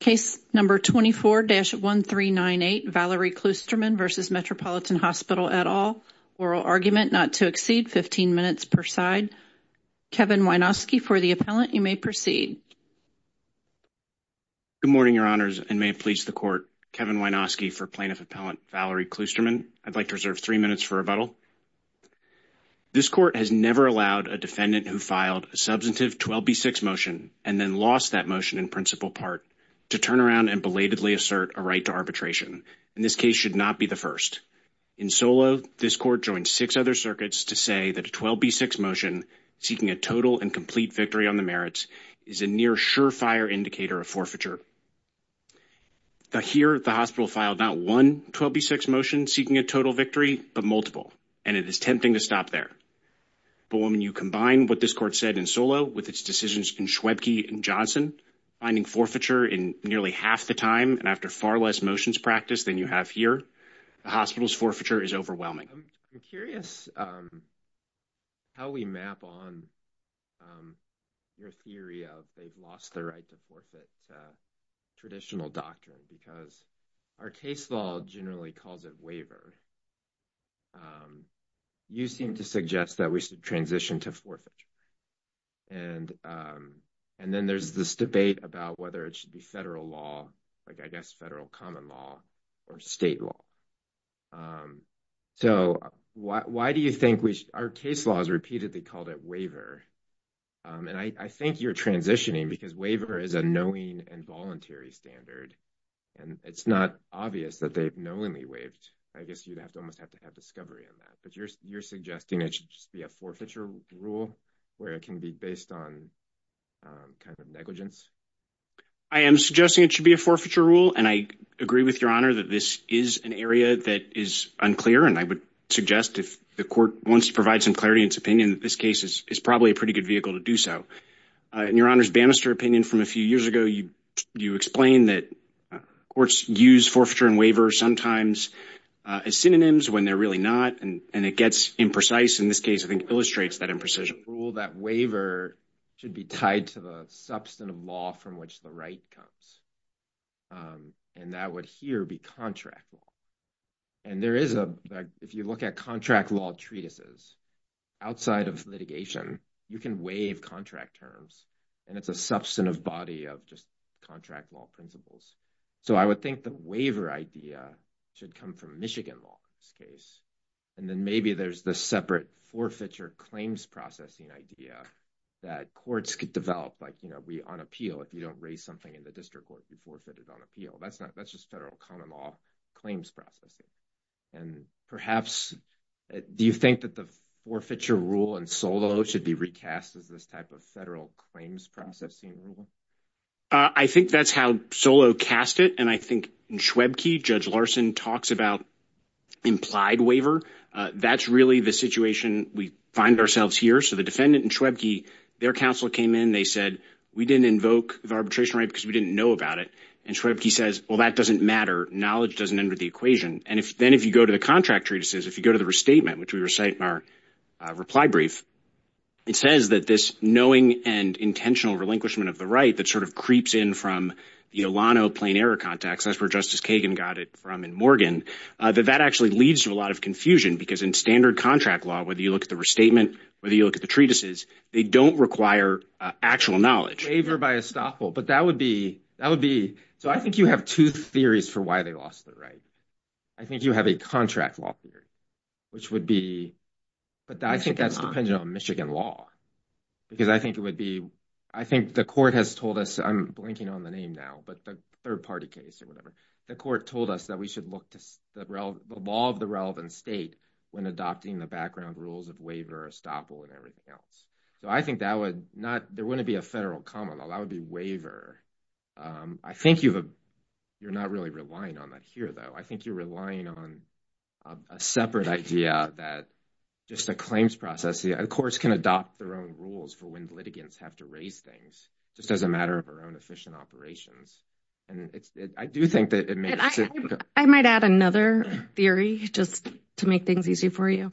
Case number 24-1398, Valerie Kloosterman v. Metropolitan Hospital et al. Oral argument not to exceed 15 minutes per side. Kevin Wynoski for the appellant. You may proceed. Good morning, Your Honors, and may it please the Court. Kevin Wynoski for Plaintiff Appellant Valerie Kloosterman. I'd like to reserve three minutes for rebuttal. This Court has never allowed a defendant who filed a substantive 12b6 motion and then lost that motion in principal part to turn around and belatedly assert a right to arbitration. And this case should not be the first. In Solo, this Court joined six other circuits to say that a 12b6 motion seeking a total and complete victory on the merits is a near surefire indicator of forfeiture. Here, the hospital filed not one 12b6 motion seeking a total victory, but multiple, and it is tempting to stop there. But when you combine what this Court said in Solo with its decisions in Schwebke and Johnson, finding forfeiture in nearly half the time and after far less motions practiced than you have here, the hospital's forfeiture is overwhelming. I'm curious how we map on your theory of they've lost the right to forfeit traditional doctrine because our case law generally calls it wavered. You seem to suggest that we should transition to forfeiture. And then there's this debate about whether it should be federal law, like I guess federal common law or state law. So why do you think our case law has repeatedly called it waver? And I think you're transitioning because waver is a knowing and voluntary standard, and it's not obvious that they've knowingly waived. I guess you'd have to almost have to have discovery on that. But you're suggesting it should just be a forfeiture rule where it can be based on kind of negligence? I am suggesting it should be a forfeiture rule. And I agree with Your Honor that this is an area that is unclear. And I would suggest if the court wants to provide some clarity in its opinion, this case is probably a pretty good vehicle to do so. In Your Honor's Bannister opinion from a few years ago, you explained that courts use forfeiture and waiver sometimes as synonyms when they're really not. And it gets imprecise in this case. I think it illustrates that imprecision. That waiver should be tied to the substantive law from which the right comes. And that would here be contract law. And if you look at contract law treatises outside of litigation, you can waive contract terms. And it's a substantive body of just contract law principles. So I would think the waiver idea should come from Michigan law in this case. And then maybe there's the separate forfeiture claims processing idea that courts could develop. Like, you know, we on appeal if you don't raise something in the district court, we forfeit it on appeal. That's just federal common law claims processing. And perhaps do you think that the forfeiture rule in Solow should be recast as this type of federal claims processing rule? I think that's how Solow cast it. And I think in Schwebke, Judge Larson talks about implied waiver. That's really the situation we find ourselves here. So the defendant in Schwebke, their counsel came in. They said, we didn't invoke the arbitration right because we didn't know about it. And Schwebke says, well, that doesn't matter. Knowledge doesn't enter the equation. And then if you go to the contract treatises, if you go to the restatement, which we recite in our reply brief, it says that this knowing and intentional relinquishment of the right that sort of creeps in from the Olano plain error context, that's where Justice Kagan got it from in Morgan, that that actually leads to a lot of confusion. Because in standard contract law, whether you look at the restatement, whether you look at the treatises, they don't require actual knowledge. Waiver by estoppel. But that would be, that would be, so I think you have two theories for why they lost the right. I think you have a contract law theory, which would be, but I think that's dependent on Michigan law. Because I think it would be, I think the court has told us, I'm blanking on the name now, but the third party case or whatever, the court told us that we should look to the law of the relevant state when adopting the background rules of waiver, estoppel and everything else. So I think that would not, there wouldn't be a federal common law. That would be waiver. I think you've, you're not really relying on that here, though. I think you're relying on a separate idea that just a claims process, the courts can adopt their own rules for when litigants have to raise things, just as a matter of our own efficient operations. And I do think that it may. I might add another theory just to make things easy for you.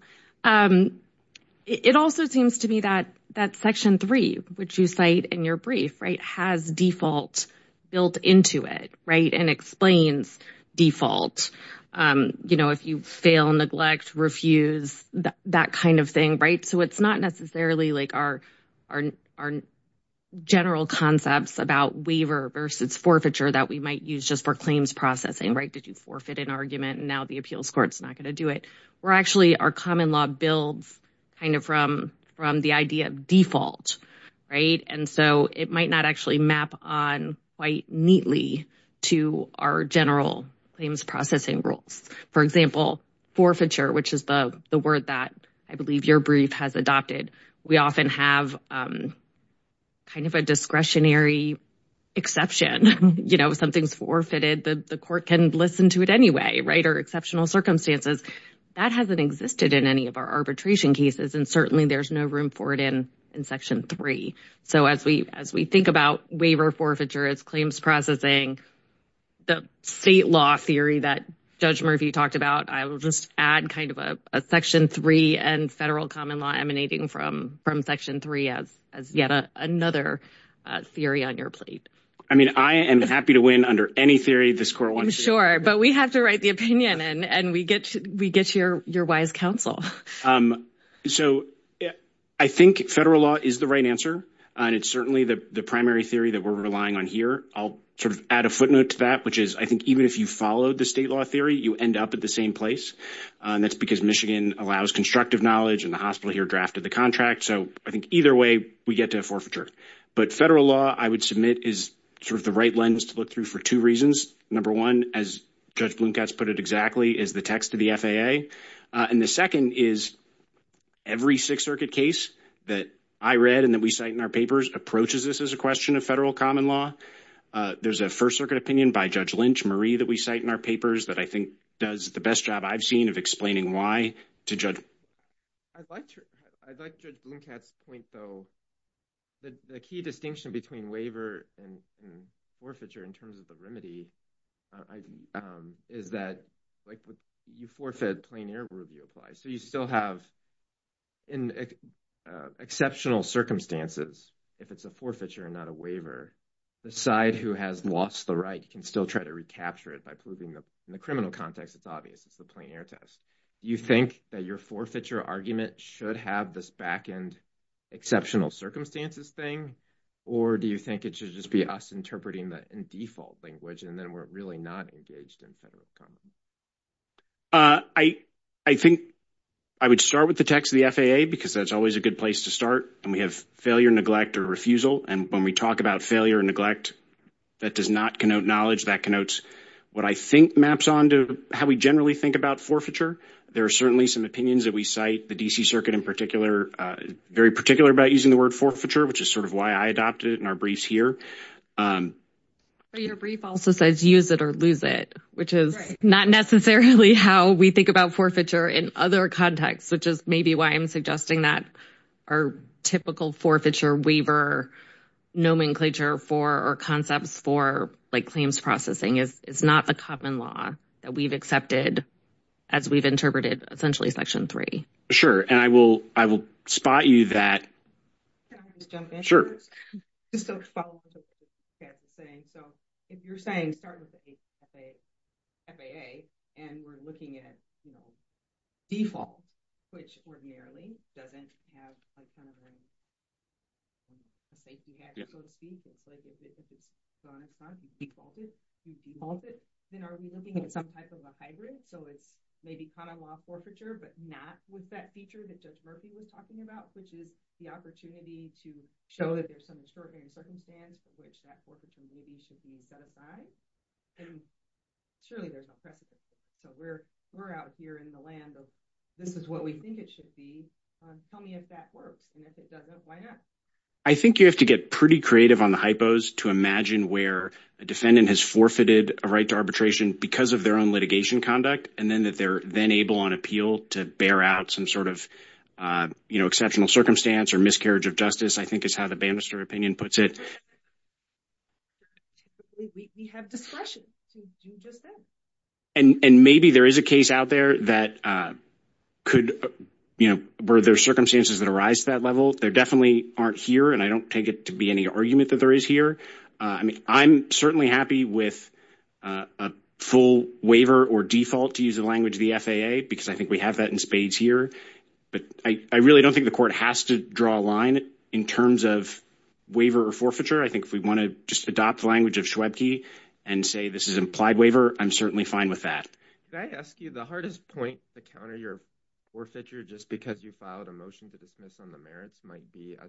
It also seems to me that that section three, which you cite in your brief, has default built into it and explains default. You know, if you fail, neglect, refuse, that kind of thing. Right. So it's not necessarily like our general concepts about waiver versus forfeiture that we might use just for claims processing. Right. Did you forfeit an argument? And now the appeals court's not going to do it. We're actually, our common law builds kind of from the idea of default. Right. And so it might not actually map on quite neatly to our general claims processing rules. For example, forfeiture, which is the word that I believe your brief has adopted. We often have kind of a discretionary exception. You know, if something's forfeited, the court can listen to it anyway. Right. Or exceptional circumstances that hasn't existed in any of our arbitration cases. And certainly there's no room for it in in section three. So as we as we think about waiver forfeiture, it's claims processing the state law theory that Judge Murphy talked about. I will just add kind of a section three and federal common law emanating from from section three as yet another theory on your plate. I mean, I am happy to win under any theory. This court, I'm sure, but we have to write the opinion and we get we get your your wise counsel. So I think federal law is the right answer. And it's certainly the primary theory that we're relying on here. I'll sort of add a footnote to that, which is I think even if you followed the state law theory, you end up at the same place. That's because Michigan allows constructive knowledge and the hospital here drafted the contract. So I think either way we get to a forfeiture. But federal law, I would submit, is sort of the right lens to look through for two reasons. Number one, as Judge Blomkatz put it exactly, is the text of the FAA. And the second is every Sixth Circuit case that I read and that we cite in our papers approaches this as a question of federal common law. There's a First Circuit opinion by Judge Lynch Marie that we cite in our papers that I think does the best job I've seen of explaining why to judge. I'd like to I'd like Judge Blomkatz point, though, that the key distinction between waiver and forfeiture in terms of the remedy is that you forfeit plain air review applies. So you still have. In exceptional circumstances, if it's a forfeiture and not a waiver, the side who has lost the right can still try to recapture it by proving that in the criminal context, it's obvious it's the plain air test. Do you think that your forfeiture argument should have this back end exceptional circumstances thing? Or do you think it should just be us interpreting that in default language and then we're really not engaged in federal? I, I think I would start with the text of the FAA because that's always a good place to start and we have failure, neglect or refusal. And when we talk about failure and neglect, that does not connote knowledge that connotes what I think maps on to how we generally think about forfeiture. There are certainly some opinions that we cite the D.C. circuit in particular, very particular about using the word forfeiture, which is sort of why I adopted it in our briefs here. Your brief also says use it or lose it, which is not necessarily how we think about forfeiture in other contexts, which is maybe why I'm suggesting that our typical forfeiture waiver nomenclature for or concepts for claims processing is not the common law that we've accepted as we've interpreted essentially section three. Sure, and I will, I will spot you that. Can I just jump in? Sure. So, if you're saying start with the FAA and we're looking at, you know, default, which ordinarily doesn't have a kind of a safety hazard, so to speak. It's like if it's defaulted, then are we looking at some type of a hybrid? So it's maybe common law forfeiture, but not with that feature that Judge Murphy was talking about, which is the opportunity to show that there's some extraordinary circumstance for which that forfeiture should be set aside. And surely there's no precedent. So we're we're out here in the land of this is what we think it should be. Tell me if that works and if it doesn't, why not? I think you have to get pretty creative on the hypos to imagine where a defendant has forfeited a right to arbitration because of their own litigation conduct. And then that they're then able on appeal to bear out some sort of, you know, exceptional circumstance or miscarriage of justice, I think, is how the Bannister opinion puts it. We have discretion to do just that. And maybe there is a case out there that could, you know, where there are circumstances that arise to that level. There definitely aren't here, and I don't take it to be any argument that there is here. I mean, I'm certainly happy with a full waiver or default to use the language of the FAA because I think we have that in spades here. But I really don't think the court has to draw a line in terms of waiver or forfeiture. I think if we want to just adopt the language of Schwebke and say this is an implied waiver, I'm certainly fine with that. Can I ask you the hardest point to counter your forfeiture just because you filed a motion to dismiss on the merits might be a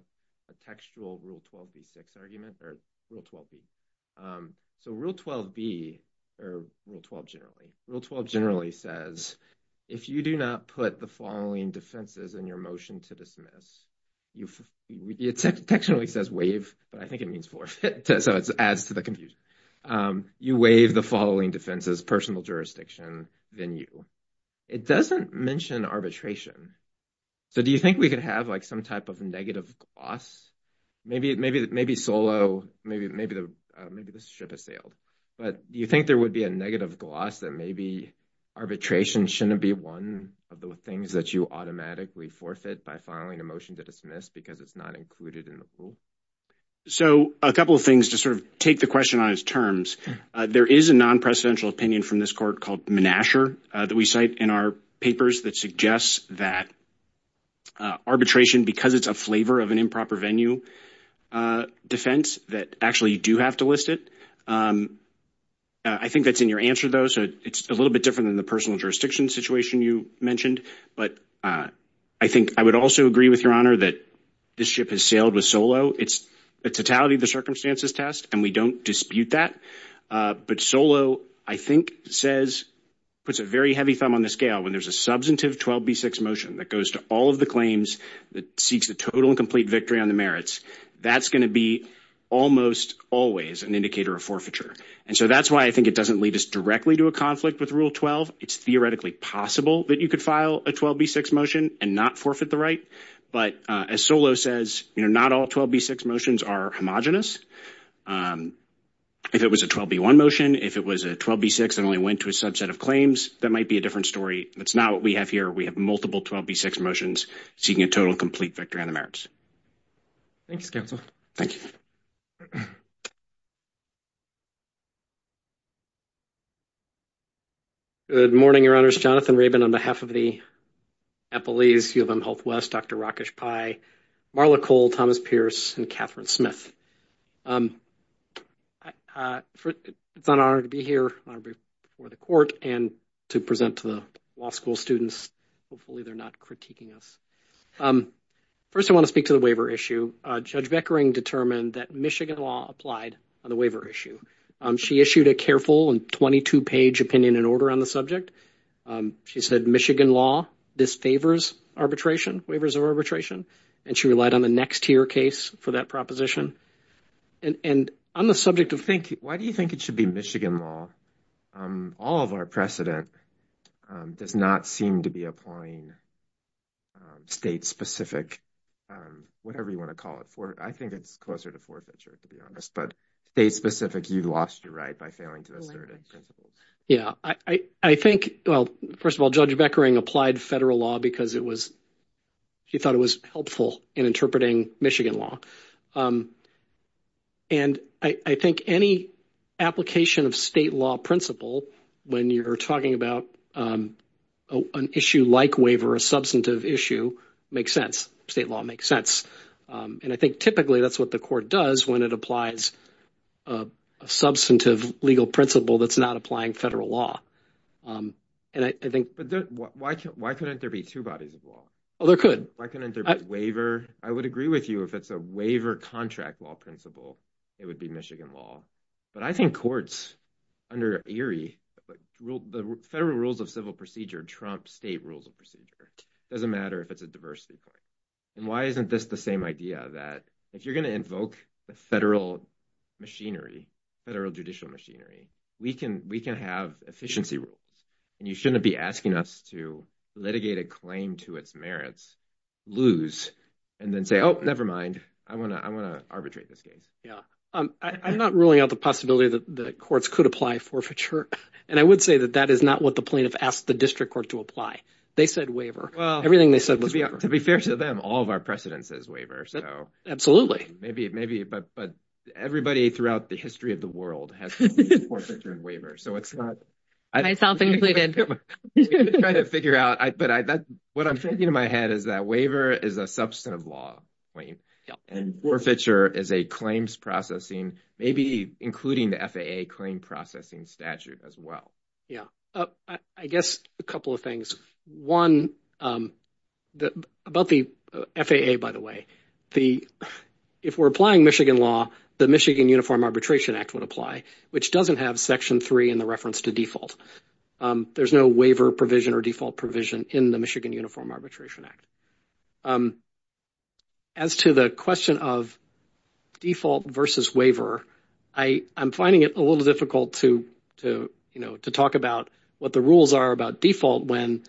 textual Rule 12b-6 argument or Rule 12b? So Rule 12b, or Rule 12 generally, Rule 12 generally says if you do not put the following defenses in your motion to dismiss, it textually says waive, but I think it means forfeit. So it adds to the confusion. You waive the following defenses, personal jurisdiction, then you. It doesn't mention arbitration. So do you think we could have like some type of negative gloss? Maybe solo, maybe the ship has sailed. But do you think there would be a negative gloss that maybe arbitration shouldn't be one of the things that you automatically forfeit by filing a motion to dismiss because it's not included in the pool? So a couple of things to sort of take the question on its terms. There is a non-presidential opinion from this court called Menasher that we cite in our papers that suggests that arbitration, because it's a flavor of an improper venue defense, that actually you do have to list it. I think that's in your answer, though. So it's a little bit different than the personal jurisdiction situation you mentioned. But I think I would also agree with your honor that this ship has sailed with solo. It's the totality of the circumstances test, and we don't dispute that. But solo, I think, says puts a very heavy thumb on the scale when there's a substantive 12B6 motion that goes to all of the claims that seeks the total and complete victory on the merits. That's going to be almost always an indicator of forfeiture. And so that's why I think it doesn't lead us directly to a conflict with Rule 12. It's theoretically possible that you could file a 12B6 motion and not forfeit the right. But as solo says, not all 12B6 motions are homogenous. If it was a 12B1 motion, if it was a 12B6 and only went to a subset of claims, that might be a different story. That's not what we have here. We have multiple 12B6 motions seeking a total and complete victory on the merits. Thanks, counsel. Thank you. Good morning, Your Honors. Jonathan Rabin on behalf of the Eppleese, U of M Health West, Dr. Rakesh Pai, Marla Cole, Thomas Pierce, and Catherine Smith. It's an honor to be here, an honor to be before the court and to present to the law school students. Hopefully they're not critiquing us. First, I want to speak to the waiver issue. Judge Beckering determined that Michigan law applied on the waiver issue. She issued a careful and 22-page opinion and order on the subject. She said, Michigan law, this favors arbitration, waivers of arbitration. And she relied on the next tier case for that proposition. And on the subject of thinking, why do you think it should be Michigan law? All of our precedent does not seem to be applying state-specific, whatever you want to call it. I think it's closer to forfeiture, to be honest. But state-specific, you lost your right by failing to assert principles. Yeah. I think, well, first of all, Judge Beckering applied federal law because it was, she thought it was helpful in interpreting Michigan law. And I think any application of state law principle, when you're talking about an issue like waiver, a substantive issue, makes sense. State law makes sense. And I think typically that's what the court does when it applies a substantive legal principle that's not applying federal law. And I think... But why couldn't there be two bodies of law? Oh, there could. Why couldn't there be waiver? I would agree with you if it's a waiver contract law principle, it would be Michigan law. But I think courts, under Erie, the federal rules of civil procedure trump state rules of procedure. It doesn't matter if it's a diversity claim. And why isn't this the same idea that if you're going to invoke the federal machinery, federal judicial machinery, we can have efficiency rules? And you shouldn't be asking us to litigate a claim to its merits, lose, and then say, oh, never mind. I want to arbitrate this case. Yeah. I'm not ruling out the possibility that the courts could apply forfeiture. And I would say that that is not what the plaintiff asked the district court to apply. They said waiver. Everything they said was waiver. Well, to be fair to them, all of our precedent says waiver. Absolutely. Maybe, but everybody throughout the history of the world has used forfeiture and waiver. So it's not. Myself included. Trying to figure out. But what I'm thinking in my head is that waiver is a substantive law claim. And forfeiture is a claims processing, maybe including the FAA claim processing statute as well. Yeah. I guess a couple of things. One, about the FAA, by the way, if we're applying Michigan law, the Michigan Uniform Arbitration Act would apply, which doesn't have Section 3 in the reference to default. There's no waiver provision or default provision in the Michigan Uniform Arbitration Act. As to the question of default versus waiver, I'm finding it a little difficult to, you know, to talk about what the rules are about default when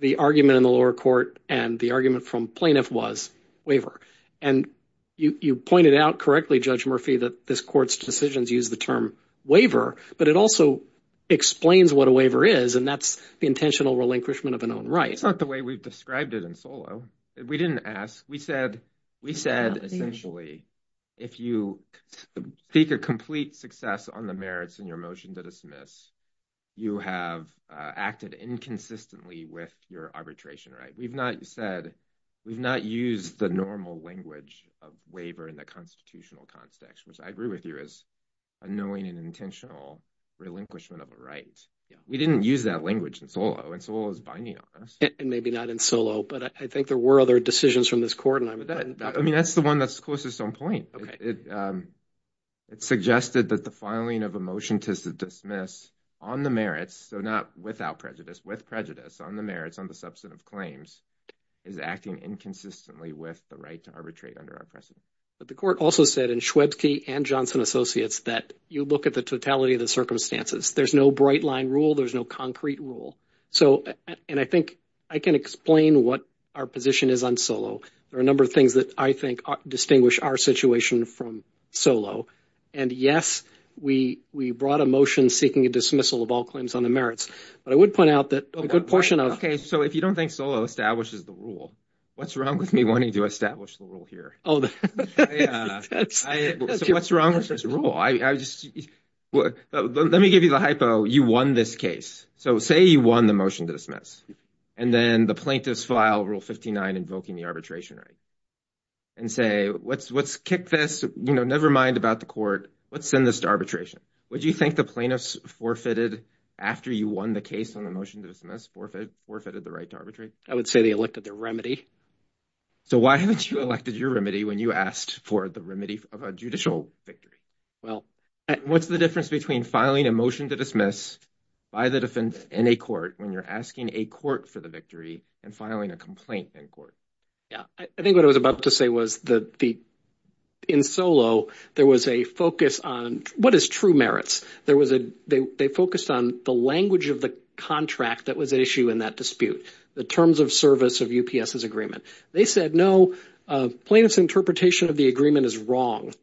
the argument in the lower court and the argument from plaintiff was waiver. And you pointed out correctly, Judge Murphy, that this court's decisions use the term waiver, but it also explains what a waiver is, and that's the intentional relinquishment of an own right. It's not the way we've described it in Solow. We didn't ask. We said, essentially, if you seek a complete success on the merits in your motion to dismiss, you have acted inconsistently with your arbitration right. We've not said, we've not used the normal language of waiver in the constitutional context, which I agree with you is a knowing and intentional relinquishment of a right. We didn't use that language in Solow, and Solow is binding on us. And maybe not in Solow, but I think there were other decisions from this court. I mean, that's the one that's closest on point. It suggested that the filing of a motion to dismiss on the merits, so not without prejudice, with prejudice on the merits on the substantive claims is acting inconsistently with the right to arbitrate under our precedent. But the court also said in Schwebsky and Johnson Associates that you look at the totality of the circumstances. There's no bright line rule. There's no concrete rule. And I think I can explain what our position is on Solow. There are a number of things that I think distinguish our situation from Solow. And, yes, we brought a motion seeking a dismissal of all claims on the merits. But I would point out that a good portion of – Okay, so if you don't think Solow establishes the rule, what's wrong with me wanting to establish the rule here? So what's wrong with this rule? Let me give you the hypo. You won this case. So say you won the motion to dismiss. And then the plaintiffs file Rule 59 invoking the arbitration right and say, let's kick this. Never mind about the court. Let's send this to arbitration. Would you think the plaintiffs forfeited after you won the case on the motion to dismiss, forfeited the right to arbitrate? I would say they elected their remedy. So why haven't you elected your remedy when you asked for the remedy of a judicial victory? Well – What's the difference between filing a motion to dismiss by the defense in a court when you're asking a court for the victory and filing a complaint in court? Yeah. I think what I was about to say was that in Solow there was a focus on what is true merits. There was a – they focused on the language of the contract that was at issue in that dispute. The terms of service of UPS's agreement. They said, no, plaintiff's interpretation of the agreement is wrong.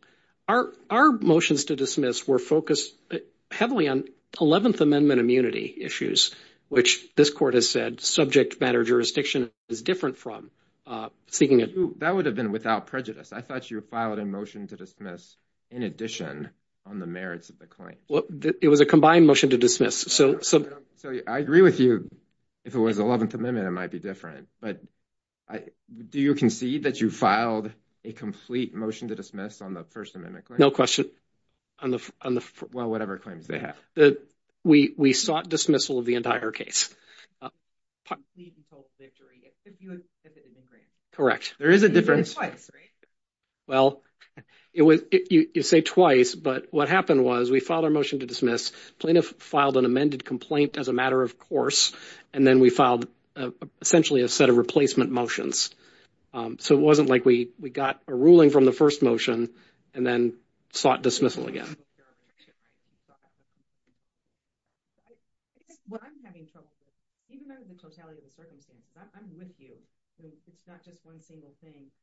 Our motions to dismiss were focused heavily on 11th Amendment immunity issues, which this court has said subject matter jurisdiction is different from. Speaking of – That would have been without prejudice. I thought you filed a motion to dismiss in addition on the merits of the claim. It was a combined motion to dismiss. So I agree with you. If it was 11th Amendment, it might be different. But do you concede that you filed a complete motion to dismiss on the First Amendment claim? No question. On the – Well, whatever claims they have. We sought dismissal of the entire case. Correct. There is a difference. Twice, right? Well, you say twice, but what happened was we filed our motion to dismiss. Plaintiff filed an amended complaint as a matter of course, and then we filed essentially a set of replacement motions. So it wasn't like we got a ruling from the first motion and then sought dismissal again. What I'm having trouble with, even under the totality of the circumstances, I'm with you. It's not just one single thing.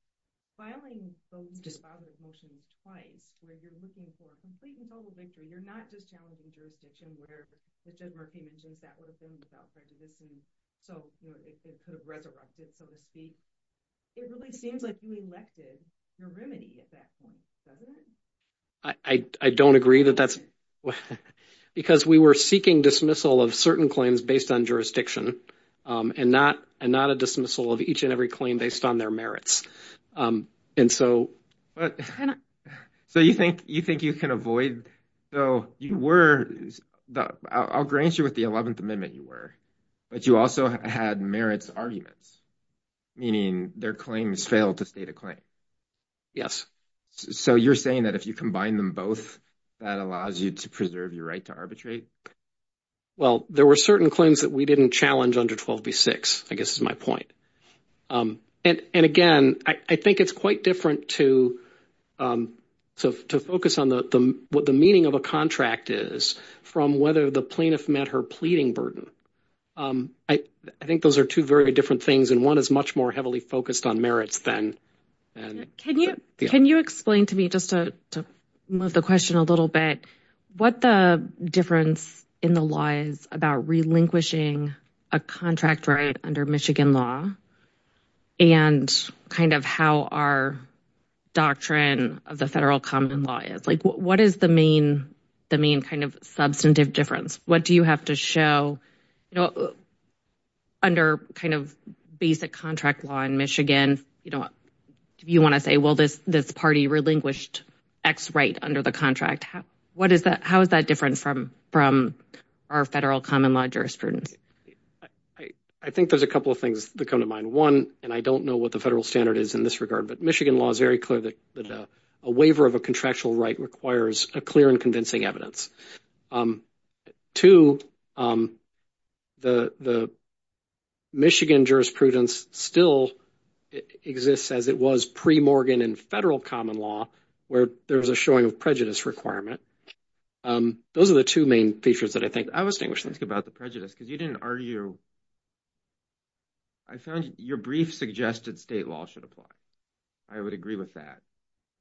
Filing those dispositive motions twice where you're looking for a complete and total victory, you're not just challenging jurisdiction where Judge Murphy mentions that would have been without prejudice and so it could have resurrected, so to speak. It really seems like you elected your remedy at that point. Does it? I don't agree that that's – because we were seeking dismissal of certain claims based on jurisdiction and not a dismissal of each and every claim based on their merits. So you think you can avoid – so you were – I'll grant you with the 11th Amendment you were, but you also had merits arguments, meaning their claims failed to state a claim. Yes. So you're saying that if you combine them both, that allows you to preserve your right to arbitrate? Well, there were certain claims that we didn't challenge under 12b-6, I guess is my point. And again, I think it's quite different to focus on what the meaning of a contract is from whether the plaintiff met her pleading burden. I think those are two very different things, and one is much more heavily focused on merits than – Can you explain to me, just to move the question a little bit, what the difference in the law is about relinquishing a contract right under Michigan law and kind of how our doctrine of the federal common law is? Like, what is the main kind of substantive difference? What do you have to show – under kind of basic contract law in Michigan, if you want to say, well, this party relinquished X right under the contract, how is that different from our federal common law jurisprudence? I think there's a couple of things that come to mind. One, and I don't know what the federal standard is in this regard, but Michigan law is very clear that a waiver of a contractual right requires a clear and convincing evidence. Two, the Michigan jurisprudence still exists as it was pre-Morgan in federal common law where there was a showing of prejudice requirement. Those are the two main features that I think – I was thinking about the prejudice because you didn't argue – I found your brief suggested state law should apply. I would agree with that.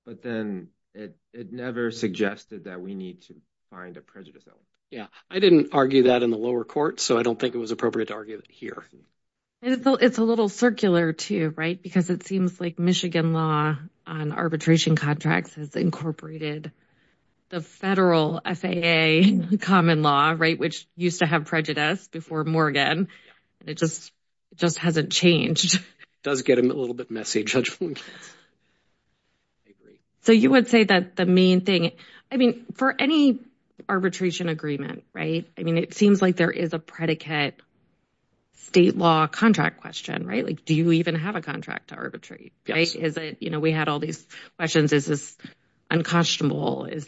But then it never suggested that we need to find a prejudice element. Yeah, I didn't argue that in the lower court, so I don't think it was appropriate to argue it here. It's a little circular too, right? Because it seems like Michigan law on arbitration contracts has incorporated the federal FAA common law, right, which used to have prejudice before Morgan. It just hasn't changed. It does get a little bit messy, Judge Williams. I agree. So you would say that the main thing – I mean, for any arbitration agreement, right, it seems like there is a predicate state law contract question, right? Do you even have a contract to arbitrate? We had all these questions. Is this unconscionable? Is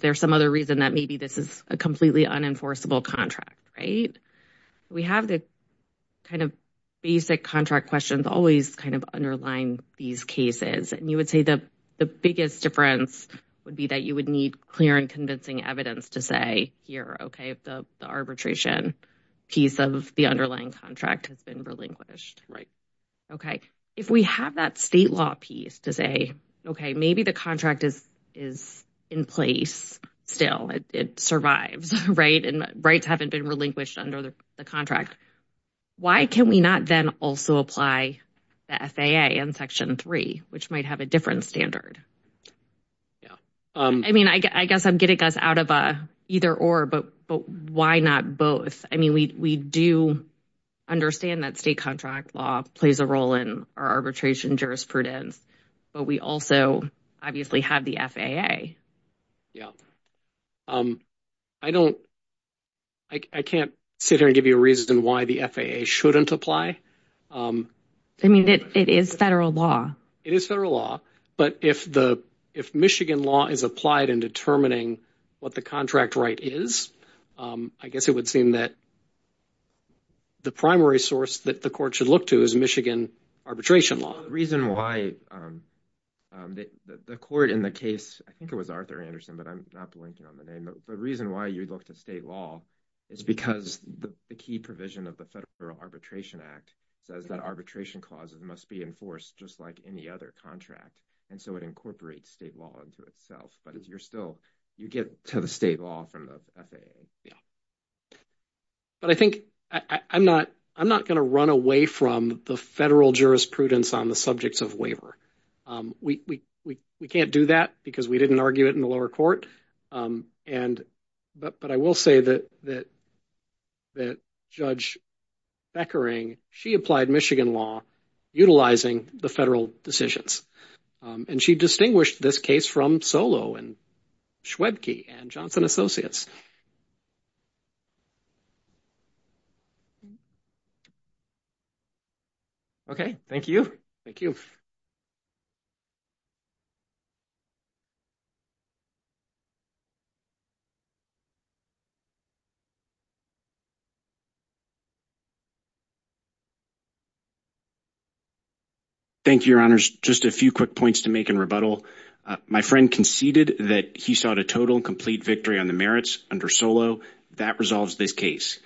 there some other reason that maybe this is a completely unenforceable contract, right? We have the kind of basic contract questions always kind of underlying these cases. And you would say the biggest difference would be that you would need clear and convincing evidence to say, here, okay, the arbitration piece of the underlying contract has been relinquished, right? Okay. If we have that state law piece to say, okay, maybe the contract is in place still. It survives, right, and rights haven't been relinquished under the contract. Why can we not then also apply the FAA in Section 3, which might have a different standard? Yeah. I mean, I guess I'm getting us out of a either-or, but why not both? I mean, we do understand that state contract law plays a role in our arbitration jurisprudence, but we also obviously have the FAA. Yeah. I can't sit here and give you a reason why the FAA shouldn't apply. I mean, it is federal law. It is federal law, but if Michigan law is applied in determining what the contract right is, I guess it would seem that the primary source that the court should look to is Michigan arbitration law. Well, the reason why the court in the case, I think it was Arthur Anderson, but I'm not blinking on the name, but the reason why you look to state law is because the key provision of the Federal Arbitration Act says that arbitration clauses must be enforced just like any other contract, and so it incorporates state law into itself, but you get to the state law from the FAA. Yeah. But I think I'm not going to run away from the federal jurisprudence on the subjects of waiver. We can't do that because we didn't argue it in the lower court, but I will say that Judge Beckering, she applied Michigan law utilizing the federal decisions, and she distinguished this case from Solow and Schwebke and Johnson Associates. Okay. Thank you. Thank you. Thank you. Thank you, Your Honors. Just a few quick points to make in rebuttal. My friend conceded that he sought a total and complete victory on the merits under Solow. That resolves this case.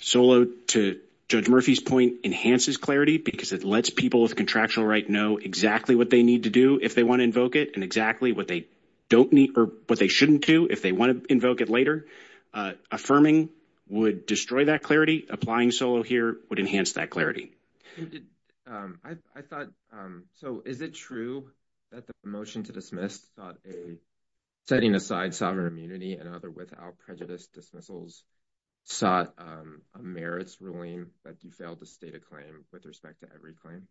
Solow, to Judge Murphy's point, enhances clarity because it lets people with contractual right know exactly what they need to do if they want to invoke it and exactly what they don't need or what they shouldn't do if they want to invoke it later. Affirming would destroy that clarity. Applying Solow here would enhance that clarity. I thought, so is it true that the motion to dismiss setting aside sovereign immunity and other without prejudice dismissals sought a merits ruling that you failed to state a claim with respect to every claim?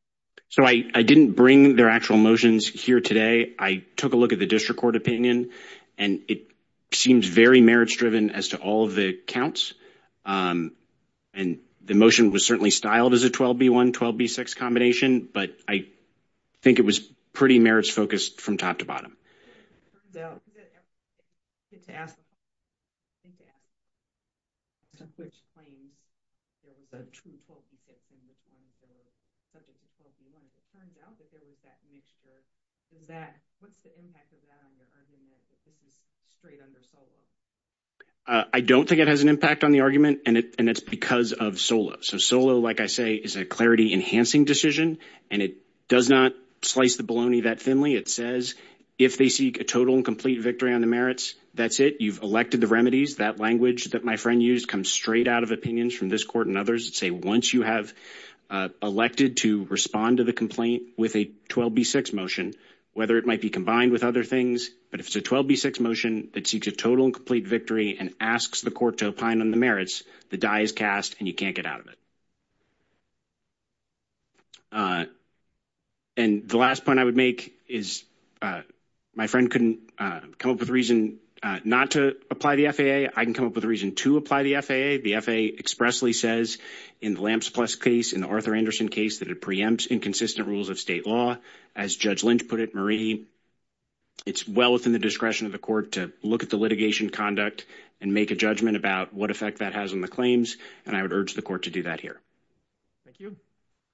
So I didn't bring their actual motions here today. I took a look at the district court opinion, and it seems very merits-driven as to all of the counts. And the motion was certainly styled as a 12B1, 12B6 combination, but I think it was pretty merits-focused from top to bottom. It turns out that every claim that you get to ask the question, which claims there was a true 12B6 on the subject of 12B1, it turns out that there was that mixture. What's the impact of that on your argument that this is straight under Solow? I don't think it has an impact on the argument, and it's because of Solow. So Solow, like I say, is a clarity-enhancing decision, and it does not slice the bologna that thinly. It says if they seek a total and complete victory on the merits, that's it. You've elected the remedies. That language that my friend used comes straight out of opinions from this court and others that say once you have elected to respond to the complaint with a 12B6 motion, whether it might be combined with other things, but if it's a 12B6 motion that seeks a total and complete victory and asks the court to opine on the merits, the die is cast and you can't get out of it. And the last point I would make is my friend couldn't come up with a reason not to apply the FAA. I can come up with a reason to apply the FAA. The FAA expressly says in the Lamps Plus case, in the Arthur Anderson case, that it preempts inconsistent rules of state law. As Judge Lynch put it, Marie, it's well within the discretion of the court to look at the litigation conduct and make a judgment about what effect that has on the claims, and I would urge the court to do that here. Thank you.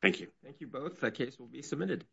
Thank you. Thank you both. The case will be submitted.